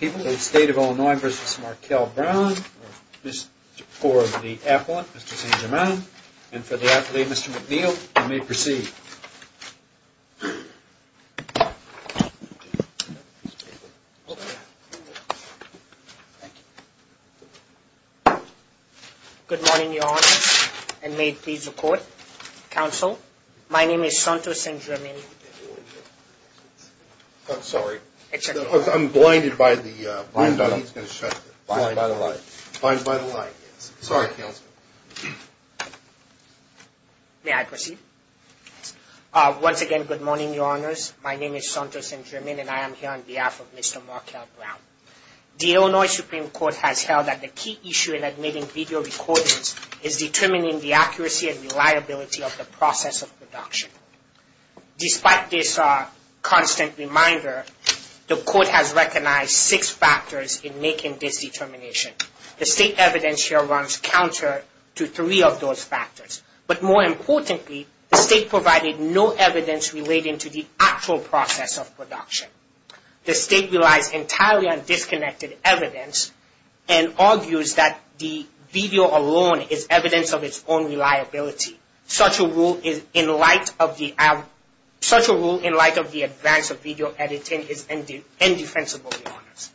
People of the State of Illinois, Mr. Markell Brown, for the appellant, Mr. St. Germain, and for the athlete, Mr. McNeil, you may proceed. Good morning, Your Honor, and may it please the Court, Counsel, my name is Santo St. Germain. May I proceed? Once again, good morning, Your Honors, my name is Santo St. Germain, and I am here on behalf of Mr. Markell Brown. The Illinois Supreme Court has held that the key issue in admitting video recordings is determining the accuracy and reliability of the process of production. Despite this constant reminder, the Court has recognized six factors in making this determination. The State evidence here runs counter to three of those factors, but more importantly, the State provided no evidence relating to the actual process of production. The State relies entirely on disconnected evidence and argues that the video alone is evidence of its own reliability. Such a rule in light of the advance of video editing is indefensible, Your Honors.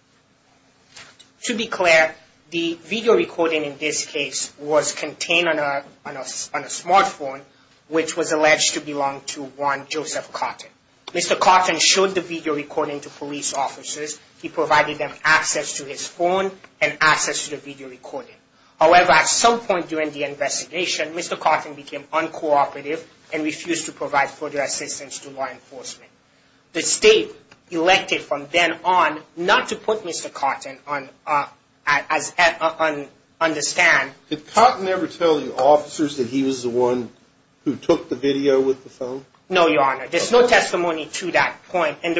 To be clear, the video recording in this case was contained on a smartphone, which was alleged to belong to one Joseph Cotton. Mr. Cotton showed the video recording to police officers. He provided them access to his phone and access to the video recording. However, at some point during the investigation, Mr. Cotton became uncooperative and refused to provide further assistance to law enforcement. The State elected from then on not to put Mr. Cotton on the stand. Did Cotton ever tell the officers that he was the one who took the video with the phone? No, Your Honor. There's no testimony to that point. And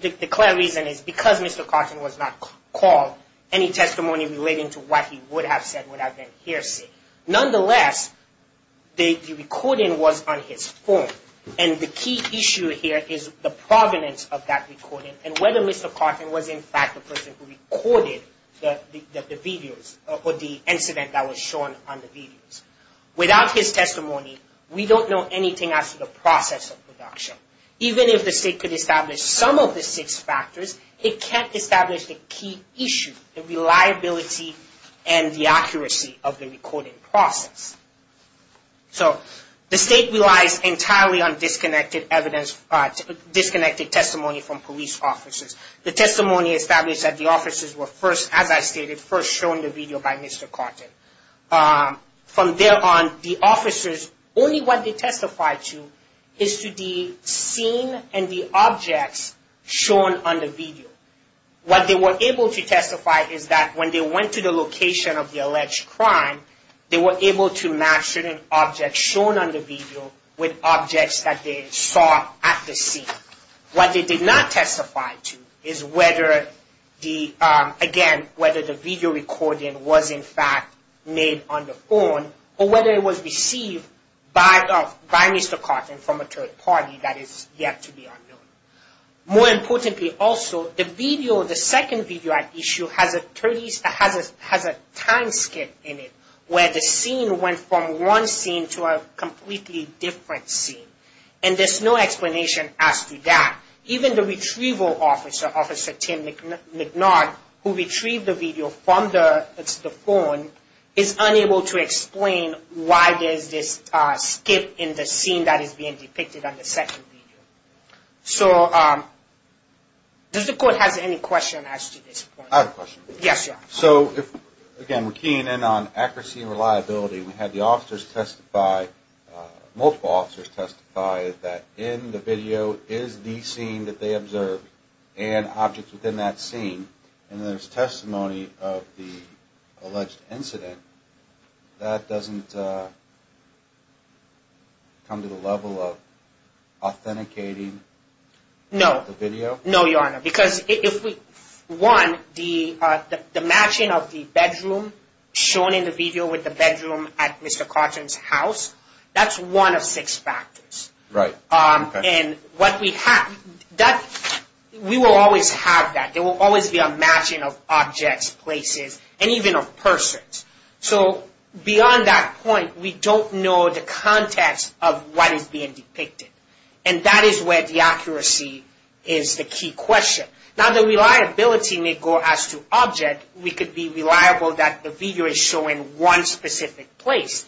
the clear reason is because Mr. Cotton was not called, any testimony relating to what he would have said would have been hearsay. Nonetheless, the recording was on his phone. And the key issue here is the provenance of that recording and whether Mr. Cotton was in fact the person who recorded the videos or the incident that was shown on the videos. Without his testimony, we don't know anything as to the process of production. Even if the State could establish some of the six factors, it can't establish the key issue, the reliability and the accuracy of the recording process. So, the State relies entirely on disconnected testimony from police officers. The testimony established that the officers were first, as I stated, first shown the video by Mr. Cotton. From there on, the officers, only what they testified to is to the scene and the objects shown on the video. What they were able to testify is that when they went to the location of the alleged crime, they were able to match certain objects shown on the video with objects that they saw at the scene. What they did not testify to is whether the, again, whether the video recording was in fact made on the phone or whether it was received by Mr. Cotton from a third party that is yet to be unknown. More importantly also, the video, the second video at issue has a time skip in it where the scene went from one scene to a completely different scene. And there's no explanation as to that. Even the retrieval officer, Officer Tim McNard, who retrieved the video from the phone is unable to explain why there's this skip in the scene that is being depicted on the second video. So, does the Court have any questions as to this point? I have a question. Yes, Your Honor. So, again, we're keying in on accuracy and reliability. We had the officers testify, multiple officers testify that in the video is the scene that they observed and objects within that scene. And there's testimony of the alleged incident. That doesn't come to the level of authenticating the video? No, Your Honor. Because if we, one, the matching of the bedroom shown in the video with the bedroom at Mr. Cotton's house, that's one of six factors. Right. And what we have, we will always have that. There will always be a matching of objects, places, and even of persons. So, beyond that point, we don't know the context of what is being depicted. And that is where the accuracy is the key question. Now, the reliability may go as to object. We could be reliable that the video is showing one specific place.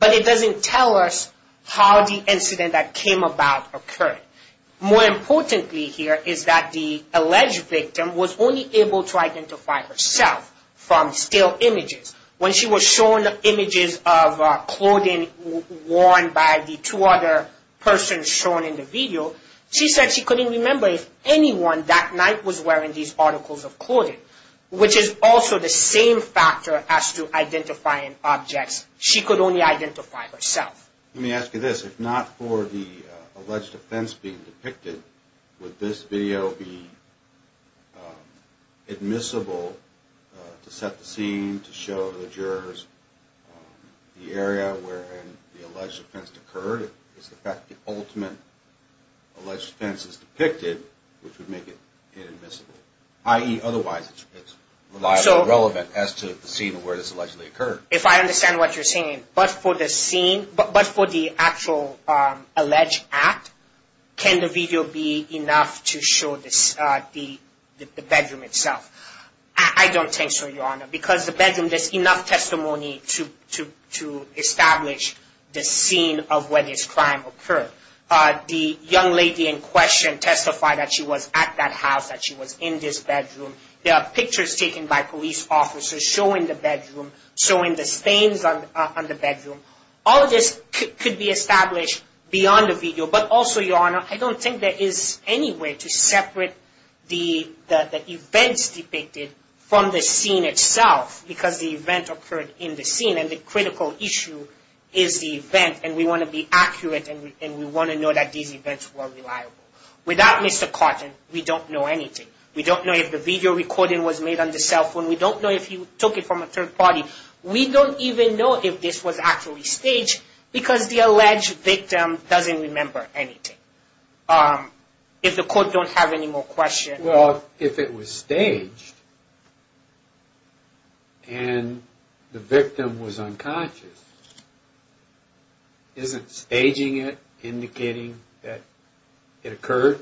But it doesn't tell us how the incident that came about occurred. More importantly here is that the alleged victim was only able to identify herself from still images. When she was shown images of clothing worn by the two other persons shown in the video, she said she couldn't remember if anyone that night was wearing these articles of clothing. Which is also the same factor as to identifying objects. She could only identify herself. Let me ask you this. If not for the alleged offense being depicted, would this video be admissible to set the scene, to show the jurors the area where the alleged offense occurred? Is the fact that the ultimate alleged offense is depicted, which would make it inadmissible? I.e., otherwise it's reliably relevant as to the scene where this allegedly occurred. If I understand what you're saying, but for the scene, but for the actual alleged act, can the video be enough to show the bedroom itself? I don't think so, Your Honor. Because the bedroom, there's enough testimony to establish the scene of where this crime occurred. The young lady in question testified that she was at that house, that she was in this bedroom. There are pictures taken by police officers showing the bedroom, showing the stains on the bedroom. All of this could be established beyond the video. But also, Your Honor, I don't think there is any way to separate the events depicted from the scene itself. Because the event occurred in the scene, and the critical issue is the event. And we want to be accurate, and we want to know that these events were reliable. Without Mr. Carton, we don't know anything. We don't know if the video recording was made on the cell phone. We don't know if he took it from a third party. We don't even know if this was actually staged, because the alleged victim doesn't remember anything. If the court don't have any more questions. Well, if it was staged, and the victim was unconscious, isn't staging it indicating that it occurred?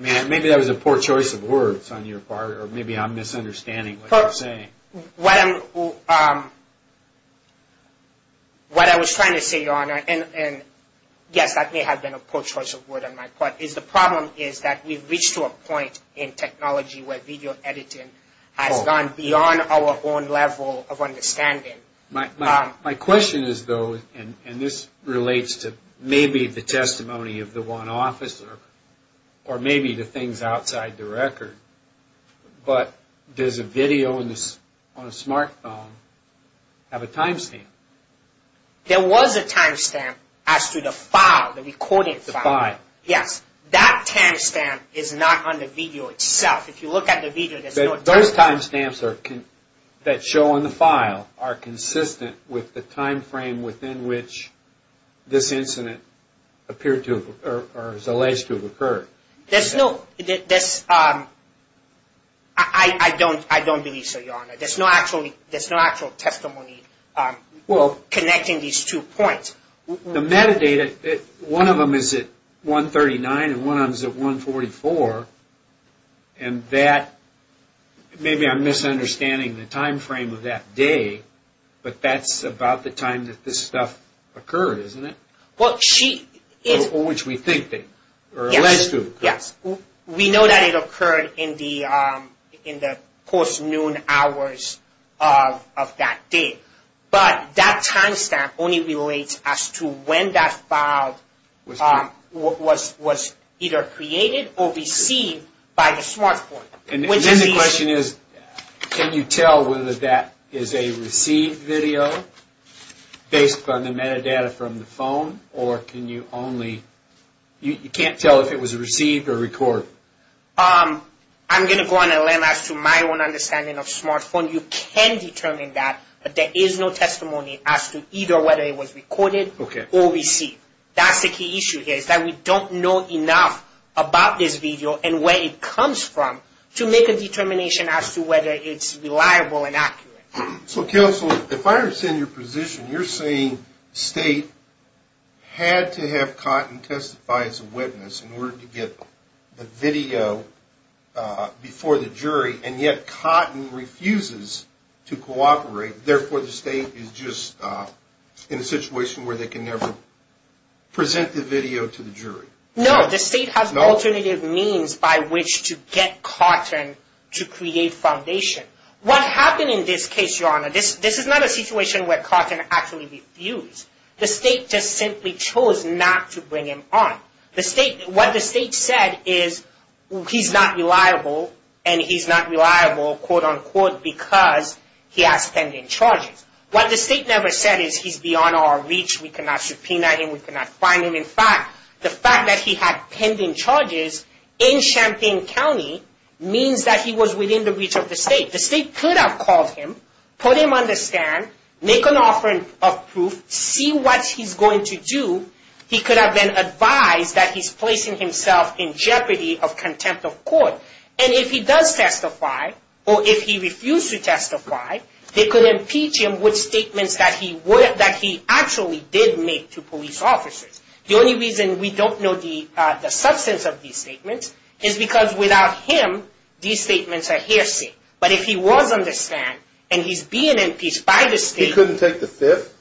Maybe that was a poor choice of words on your part, or maybe I'm misunderstanding what you're saying. What I was trying to say, Your Honor, and yes, that may have been a poor choice of words on my part, is the problem is that we've reached to a point in technology where video editing has gone beyond our own level of understanding. My question is though, and this relates to maybe the testimony of the one officer, or maybe the things outside the record, but does a video on a smart phone have a timestamp? There was a timestamp as to the file, the recorded file. The file. Yes. That timestamp is not on the video itself. If you look at the video, there's no timestamp. Those timestamps that show on the file are consistent with the time frame within which this incident appeared to have, or is alleged to have occurred. There's no, I don't believe so, Your Honor. There's no actual testimony connecting these two points. The metadata, one of them is at 1.39 and one of them is at 1.44, and that, maybe I'm misunderstanding the time frame of that day, but that's about the time that this stuff occurred, isn't it? Well, she is. Or which we think they, or alleged to have occurred. Yes. We know that it occurred in the post-noon hours of that day. But that timestamp only relates as to when that file was either created or received by the smart phone. And then the question is, can you tell whether that is a received video based on the metadata from the phone, or can you only, you can't tell if it was received or recorded? I'm going to go on and land as to my own understanding of smart phone. You can determine that, but there is no testimony as to either whether it was recorded or received. That's the key issue here, is that we don't know enough about this video and where it comes from to make a determination as to whether it's reliable and accurate. So Counsel, if I understand your position, you're saying State had to have Cotton testify as a witness in order to get the video before the jury, and yet Cotton refuses to cooperate. Therefore, the State is just in a situation where they can never present the video to the jury. No, the State has alternative means by which to get Cotton to create foundation. What happened in this case, Your Honor, this is not a situation where Cotton actually refused. The State just simply chose not to bring him on. What the State said is, he's not reliable, and he's not reliable, quote-unquote, because he has pending charges. What the State never said is, he's beyond our reach, we cannot subpoena him, we cannot fine him. In fact, the fact that he had pending charges in Champaign County means that he was within the reach of the State. The State could have called him, put him on the stand, make an offering of proof, see what he's going to do. He could have been advised that he's placing himself in jeopardy of contempt of court. And if he does testify, or if he refused to testify, they could impeach him with statements that he actually did make to police officers. The only reason we don't know the substance of these statements is because without him, these statements are hearsay. But if he was on the stand, and he's being impeached by the State... He couldn't take the fifth?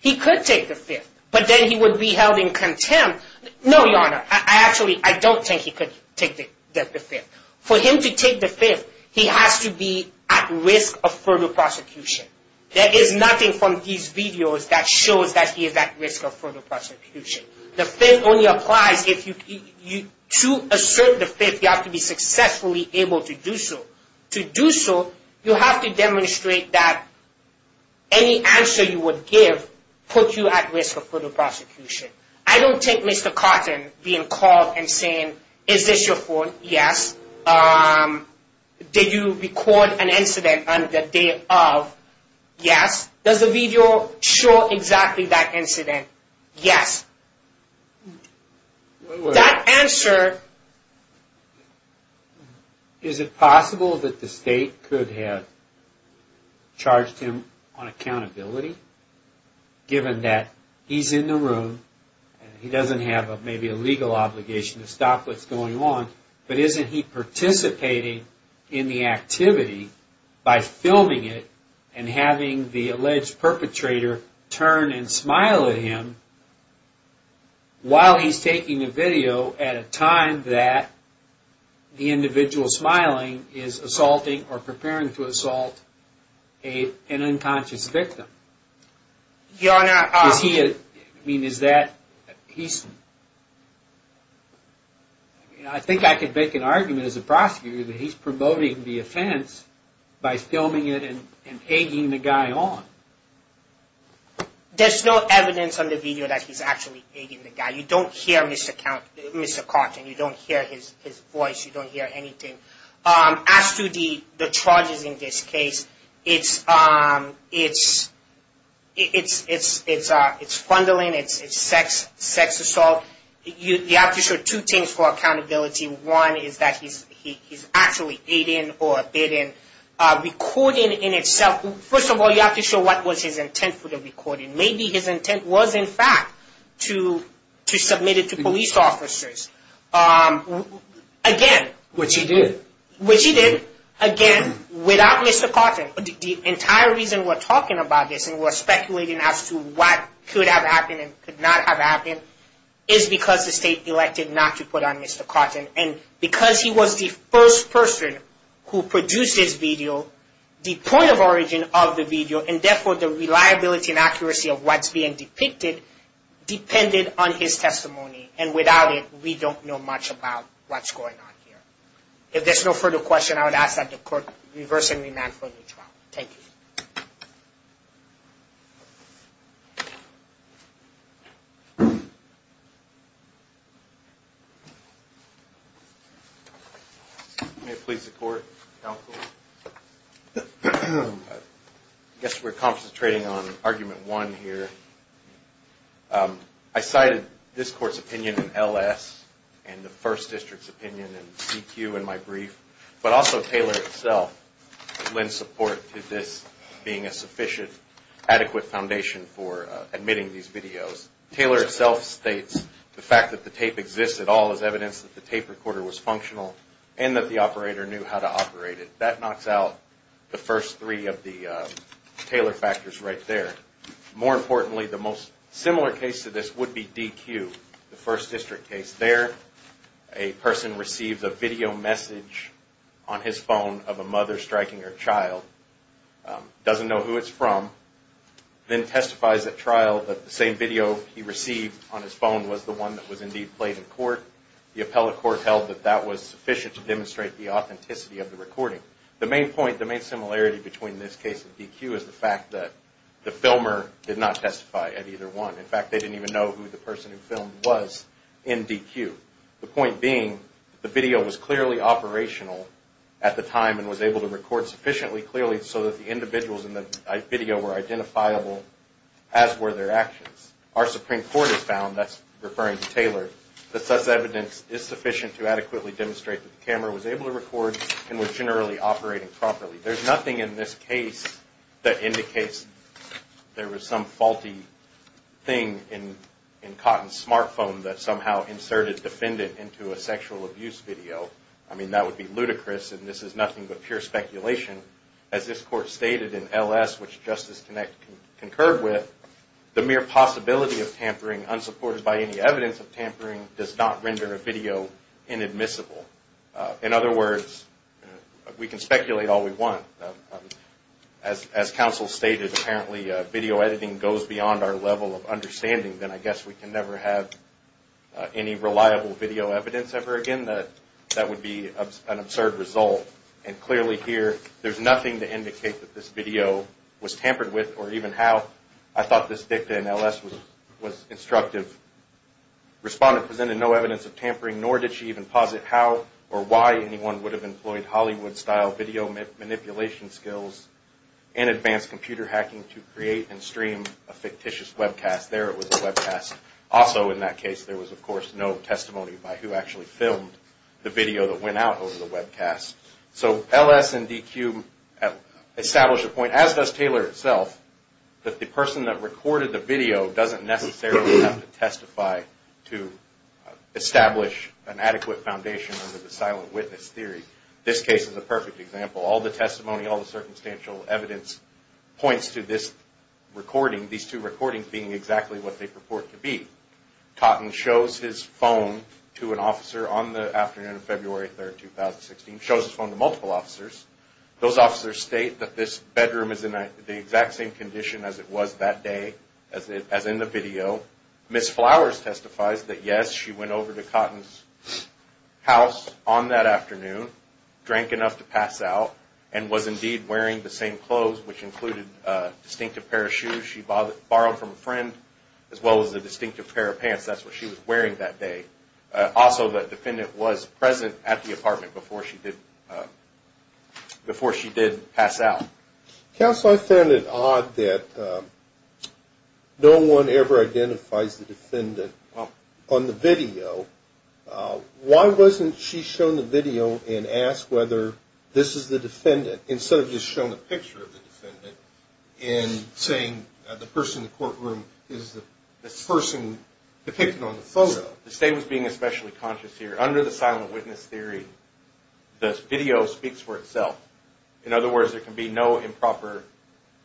He could take the fifth, but then he would be held in contempt. No, Your Honor, I actually, I don't think he could take the fifth. For him to take the fifth, he has to be at risk of further prosecution. There is nothing from these videos that shows that he is at risk of further prosecution. The fifth only applies if you, to assert the fifth, you have to be successfully able to do so. To do so, you have to demonstrate that any answer you would give puts you at risk of further prosecution. I don't take Mr. Cotton being called and saying, is this your phone? Yes. Did you record an incident on the day of? Yes. Does the video show exactly that incident? Yes. That answer... Is it possible that the State could have charged him on accountability? Given that he's in the room, and he doesn't have maybe a legal obligation to stop what's going on, but isn't he participating in the activity by filming it and having the alleged perpetrator turn and smile at him while he's taking the video at a time that the individual smiling is assaulting or preparing to assault an unconscious victim? Your Honor... I think I could make an argument as a prosecutor that he's promoting the offense by filming it and egging the guy on. There's no evidence on the video that he's actually egging the guy. You don't hear Mr. Cotton. You don't hear his voice. You don't hear anything. As to the charges in this case, it's fundling, it's sex assault. You have to show two things for accountability. One is that he's actually aiding or abetting recording in itself. First of all, you have to show what was his intent for the recording. Maybe his intent was in fact to submit it to police officers. Again... Which he did. Which he did. Again, without Mr. Cotton. The entire reason we're talking about this and we're speculating as to what could have happened and could not have happened is because the state elected not to put on Mr. Cotton. And because he was the first person who produced this video, the point of origin of the video and therefore the reliability and accuracy of what's being depicted depended on his testimony. And without it, we don't know much about what's going on here. If there's no further question, I would ask that the court reverse and remand for the trial. Thank you. May it please the court. Counsel. I guess we're concentrating on argument one here. I cited this court's opinion in LS and the first district's opinion in CQ in my brief, but also Taylor itself lent support to this being a sufficient adequate foundation for admitting these videos. Taylor itself states the fact that the tape exists at all is evidence that the tape recorder was functional and that the operator knew how to operate it. That knocks out the first three of the Taylor factors right there. More importantly, the most similar case to this would be DQ, the first district case. There, a person receives a video message on his phone of a mother striking her child, doesn't know who it's from, then testifies at trial that the same video he received on his phone The appellate court held that that was sufficient to demonstrate the authenticity of the recording. The main similarity between this case and DQ is the fact that the filmer did not testify at either one. In fact, they didn't even know who the person who filmed was in DQ. The point being, the video was clearly operational at the time and was able to record sufficiently clearly so that the individuals in the video were identifiable as were their actions. Our Supreme Court has found, that's referring to Taylor, that such evidence is sufficient to adequately demonstrate that the camera was able to record and was generally operating properly. There's nothing in this case that indicates there was some faulty thing in Cotton's smartphone that somehow inserted the defendant into a sexual abuse video. I mean, that would be ludicrous and this is nothing but pure speculation. As this court stated in LS, which Justice Connick concurred with, the mere possibility of tampering, unsupported by any evidence of tampering, does not render a video inadmissible. In other words, we can speculate all we want. As counsel stated, apparently video editing goes beyond our level of understanding, then I guess we can never have any reliable video evidence ever again. That would be an absurd result. And clearly here, there's nothing to indicate that this video was tampered with or even how. I thought this dicta in LS was instructive. Respondent presented no evidence of tampering, nor did she even posit how or why anyone would have employed Hollywood-style video manipulation skills and advanced computer hacking to create and stream a fictitious webcast. There it was a webcast. Also in that case, there was of course no testimony by who actually filmed the video that went out over the webcast. So LS and DQ establish a point, as does Taylor itself, that the person that recorded the video doesn't necessarily have to testify to establish an adequate foundation under the silent witness theory. This case is a perfect example. All the testimony, all the circumstantial evidence points to this recording, these two recordings being exactly what they purport to be. Cotton shows his phone to an officer on the afternoon of February 3, 2016. Shows his phone to multiple officers. Those officers state that this bedroom is in the exact same condition as it was that day, as in the video. Ms. Flowers testifies that yes, she went over to Cotton's house on that afternoon, drank enough to pass out, and was indeed wearing the same clothes, which included a distinctive pair of shoes she borrowed from a friend, as well as a distinctive pair of pants. That's what she was wearing that day. Also, the defendant was present at the apartment before she did pass out. Counsel, I found it odd that no one ever identifies the defendant on the video. Why wasn't she shown the video and asked whether this is the defendant, instead of just showing a picture of the defendant, and saying the person in the courtroom is the person depicted on the photo? The state was being especially conscious here. Under the silent witness theory, the video speaks for itself. In other words, there can be no improper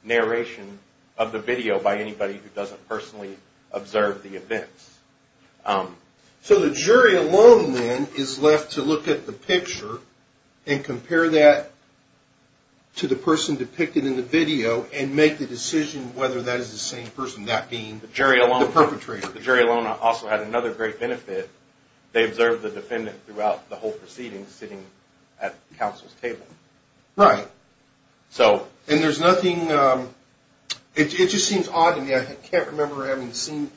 narration of the video by anybody who doesn't personally observe the events. So the jury alone, then, is left to look at the picture and compare that to the person depicted in the video and make the decision whether that is the same person, that being the perpetrator. The jury alone also had another great benefit. They observed the defendant throughout the whole proceeding, sitting at counsel's table. Right. So... And there's nothing... It just seems odd to me. I can't remember having seen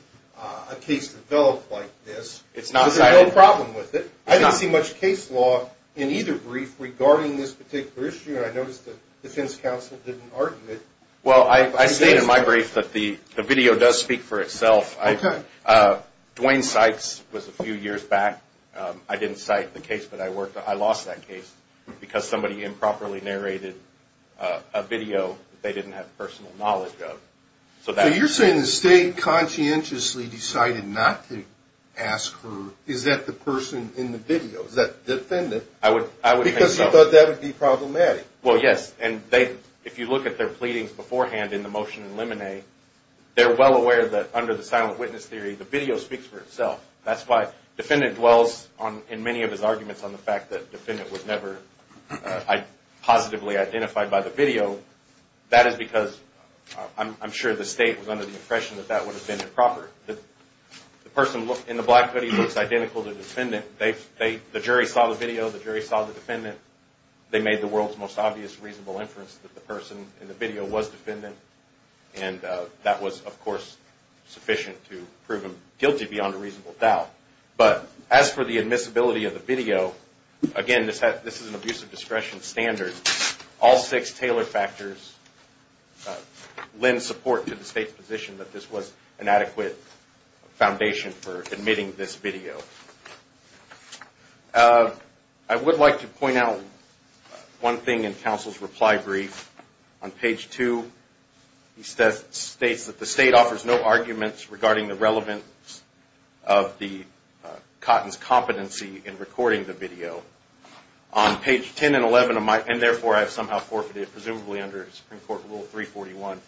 a case develop like this. It's not that... There's no problem with it. I didn't see much case law in either brief regarding this particular issue, and I noticed the defense counsel didn't argue it. Well, I stated in my brief that the video does speak for itself. Okay. Dwayne Sykes was a few years back. I didn't cite the case, but I lost that case because somebody improperly narrated a video that they didn't have personal knowledge of. So you're saying the state conscientiously decided not to ask her, is that the person in the video, is that the defendant? I would think so. Because you thought that would be problematic. Well, yes, and if you look at their pleadings beforehand in the motion in Lemonnet, they're well aware that under the silent witness theory, the video speaks for itself. That's why defendant dwells in many of his arguments on the fact that the defendant was never positively identified by the video. That is because I'm sure the state was under the impression that that would have been improper. The person in the black hoodie looks identical to the defendant. The jury saw the video. The jury saw the defendant. They made the world's most obvious reasonable inference that the person in the video was defendant, and that was, of course, sufficient to prove him guilty beyond a reasonable doubt. But as for the admissibility of the video, again, this is an abuse of discretion standard. All six tailored factors lend support to the state's position that this was an adequate foundation for admitting this video. I would like to point out one thing in counsel's reply brief. On page 2, he states that the state offers no arguments regarding the relevance of Cotton's competency in recording the video. On page 10 and 11 of my, and therefore I have somehow forfeited, presumably under Supreme Court Rule 341,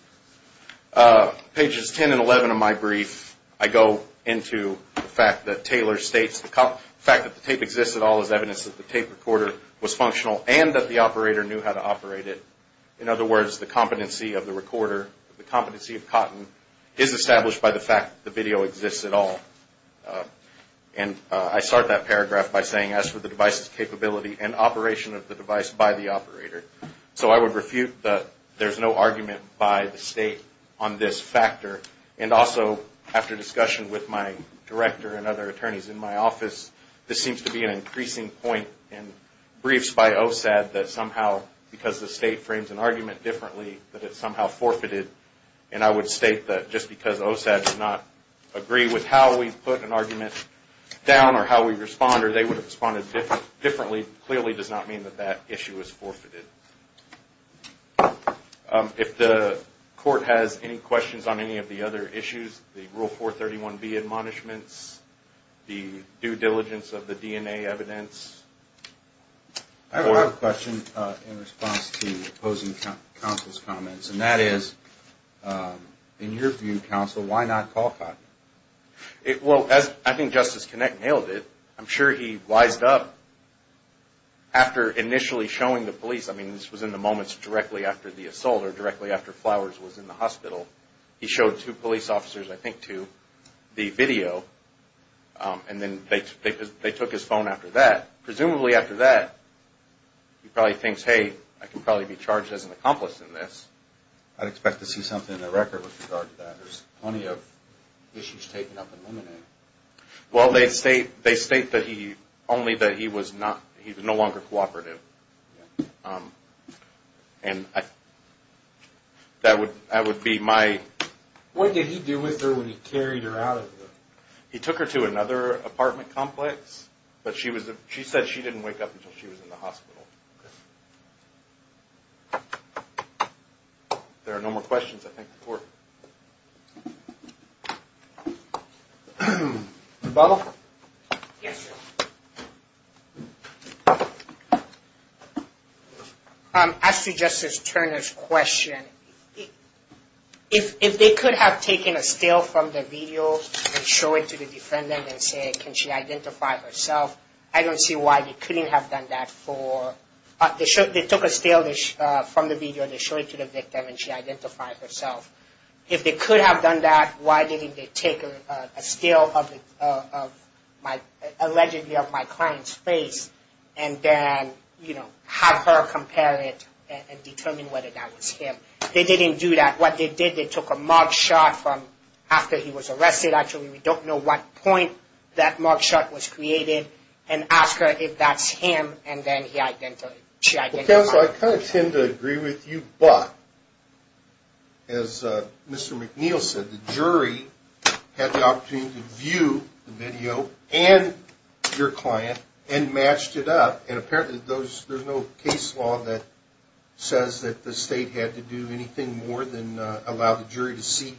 pages 10 and 11 of my brief, I go into the fact that Taylor states the fact that the tape exists at all is evidence that the tape recorder was functional and that the operator knew how to operate it. In other words, the competency of the recorder, the competency of Cotton, is established by the fact that the video exists at all. And I start that paragraph by saying, as for the device's capability and operation of the device by the operator. So I would refute that there's no argument by the state on this factor. And also, after discussion with my director and other attorneys in my office, this seems to be an increasing point in briefs by OSAD that somehow, because the state frames an argument differently, that it's somehow forfeited. And I would state that just because OSAD does not agree with how we put an argument down or how we respond, or they would have responded differently, clearly does not mean that that issue is forfeited. If the court has any questions on any of the other issues, the Rule 431B admonishments, the due diligence of the DNA evidence. I have a question in response to opposing counsel's comments. And that is, in your view, counsel, why not call Cotton? Well, I think Justice Kinnick nailed it. I'm sure he wised up after initially showing the police. I mean, this was in the moments directly after the assault or directly after Flowers was in the hospital. He showed two police officers, I think, to the video. And then they took his phone after that. Presumably after that, he probably thinks, hey, I can probably be charged as an accomplice in this. I'd expect to see something in the record with regard to that. There's plenty of issues taken up in the minute. Well, they state only that he was no longer cooperative. And that would be my... What did he do with her when he carried her out of the... He took her to another apartment complex. But she said she didn't wake up until she was in the hospital. Okay. There are no more questions, I think, before... Bob? Yes, sir. As to Justice Turner's question, if they could have taken a still from the video and show it to the defendant and say, can she identify herself, I don't see why they couldn't have done that for... They took a still from the video, they showed it to the victim, and she identified herself. If they could have done that, why didn't they take a still of my... You know, have her compare it and determine whether that was him. They didn't do that. What they did, they took a mug shot from after he was arrested. Actually, we don't know what point that mug shot was created, and asked her if that's him, and then she identified herself. Counsel, I kind of tend to agree with you, but as Mr. McNeil said, the jury had the opportunity to view the video and your client and matched it up. And apparently, there's no case law that says that the state had to do anything more than allow the jury to see...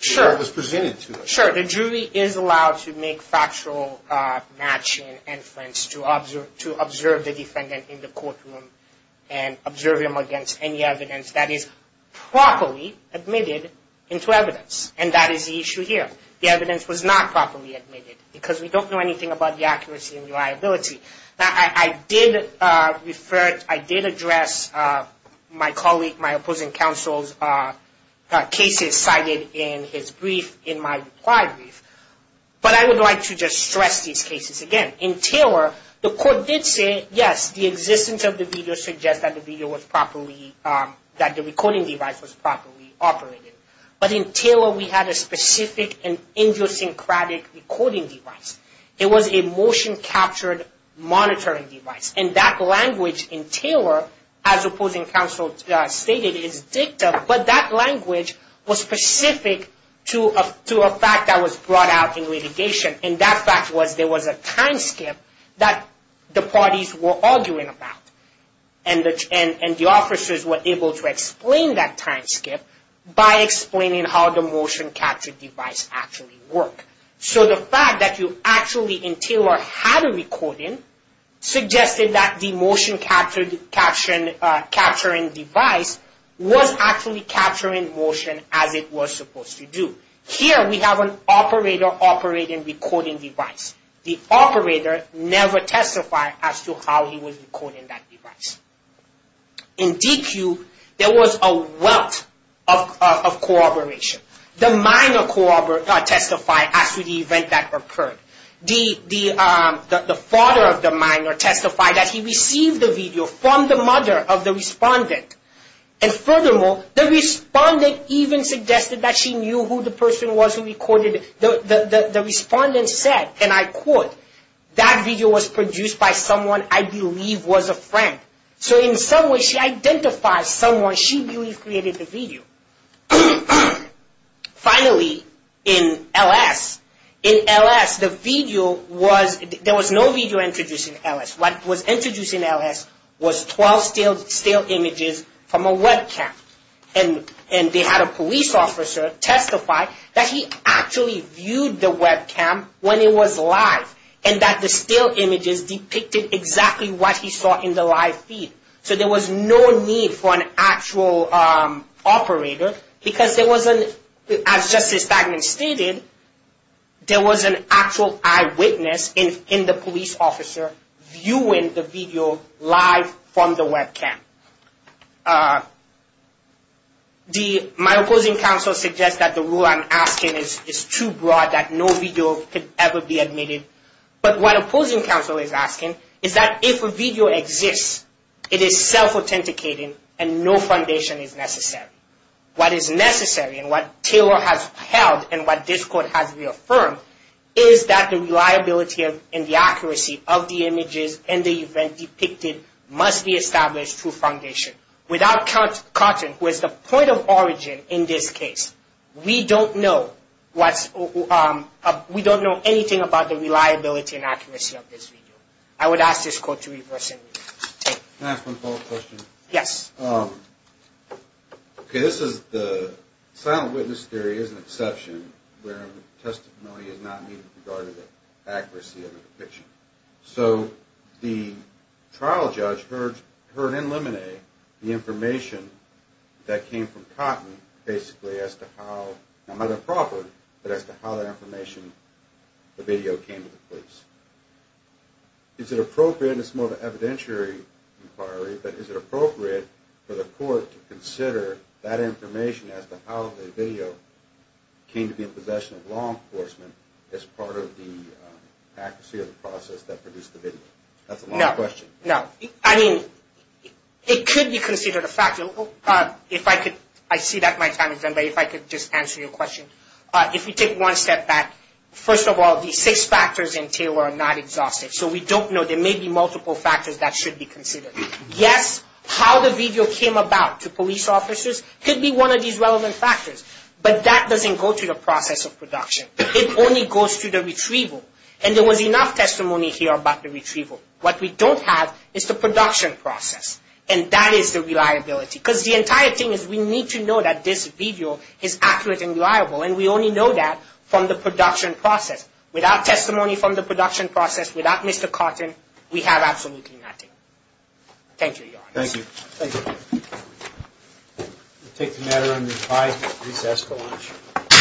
Sure. ...what was presented to them. Sure, the jury is allowed to make factual matching and inference to observe the defendant in the courtroom and observe him against any evidence that is properly admitted into evidence, and that is the issue here. The evidence was not properly admitted because we don't know anything about the accuracy and reliability. Now, I did refer, I did address my colleague, my opposing counsel's cases cited in his brief, in my reply brief. But I would like to just stress these cases again. In Taylor, the court did say, yes, the existence of the video suggests that the video was properly... that the recording device was properly operated. But in Taylor, we had a specific and idiosyncratic recording device. It was a motion-captured monitoring device. And that language in Taylor, as opposing counsel stated, is dicta, but that language was specific to a fact that was brought out in litigation. And that fact was there was a time skip that the parties were arguing about. And the officers were able to explain that time skip by explaining how the motion-captured device actually worked. So the fact that you actually, in Taylor, had a recording suggested that the motion-captured capturing device was actually capturing motion as it was supposed to do. Here, we have an operator operating recording device. The operator never testified as to how he was recording that device. In Deque, there was a wealth of corroboration. The minor testified as to the event that occurred. The father of the minor testified that he received the video from the mother of the respondent. And furthermore, the respondent even suggested that she knew who the person was who recorded it. The respondent said, and I quote, that video was produced by someone I believe was a friend. So in some way, she identifies someone she believes created the video. Finally, in LS, in LS, the video was, there was no video introduced in LS. What was introduced in LS was 12 stale images from a webcam. And they had a police officer testify that he actually viewed the webcam when it was live. And that the stale images depicted exactly what he saw in the live feed. So there was no need for an actual operator because there was an, as Justice Stagnant stated, there was an actual eyewitness in the police officer viewing the video live from the webcam. The, my opposing counsel suggests that the rule I'm asking is too broad that no video could ever be admitted. But what opposing counsel is asking is that if a video exists, it is self-authenticating and no foundation is necessary. What is necessary and what Taylor has held and what this court has reaffirmed is that the reliability and the accuracy of the images and the event depicted must be established through foundation. Without Cotton, who is the point of origin in this case, we don't know what's, we don't know anything about the reliability and accuracy of this video. I would ask this court to reverse and review. Can I ask one follow-up question? Yes. Okay, this is the, silent witness theory is an exception where testimony is not needed regarding the accuracy of the depiction. So the trial judge heard in Lemonet the information that came from Cotton basically as to how, not about the property, but as to how that information, the video, came to the police. Is it appropriate, and this is more of an evidentiary inquiry, but is it appropriate for the court to consider that information as to how the video came to be in possession of law enforcement as part of the accuracy of the process that produced the video? That's a long question. No, no. I mean, it could be considered a factor. If I could, I see that my time is done, but if I could just answer your question. If you take one step back, first of all, these six factors in Taylor are not exhaustive, so we don't know. There may be multiple factors that should be considered. Yes, how the video came about to police officers could be one of these relevant factors, but that doesn't go to the process of production. It only goes to the retrieval, and there was enough testimony here about the retrieval. What we don't have is the production process, and that is the reliability, because the entire thing is we need to know that this video is accurate and reliable, and we only know that from the production process. Without testimony from the production process, without Mr. Cotton, we have absolutely nothing. Thank you, Your Honor. Thank you. Thank you. We'll take the matter under due process to launch.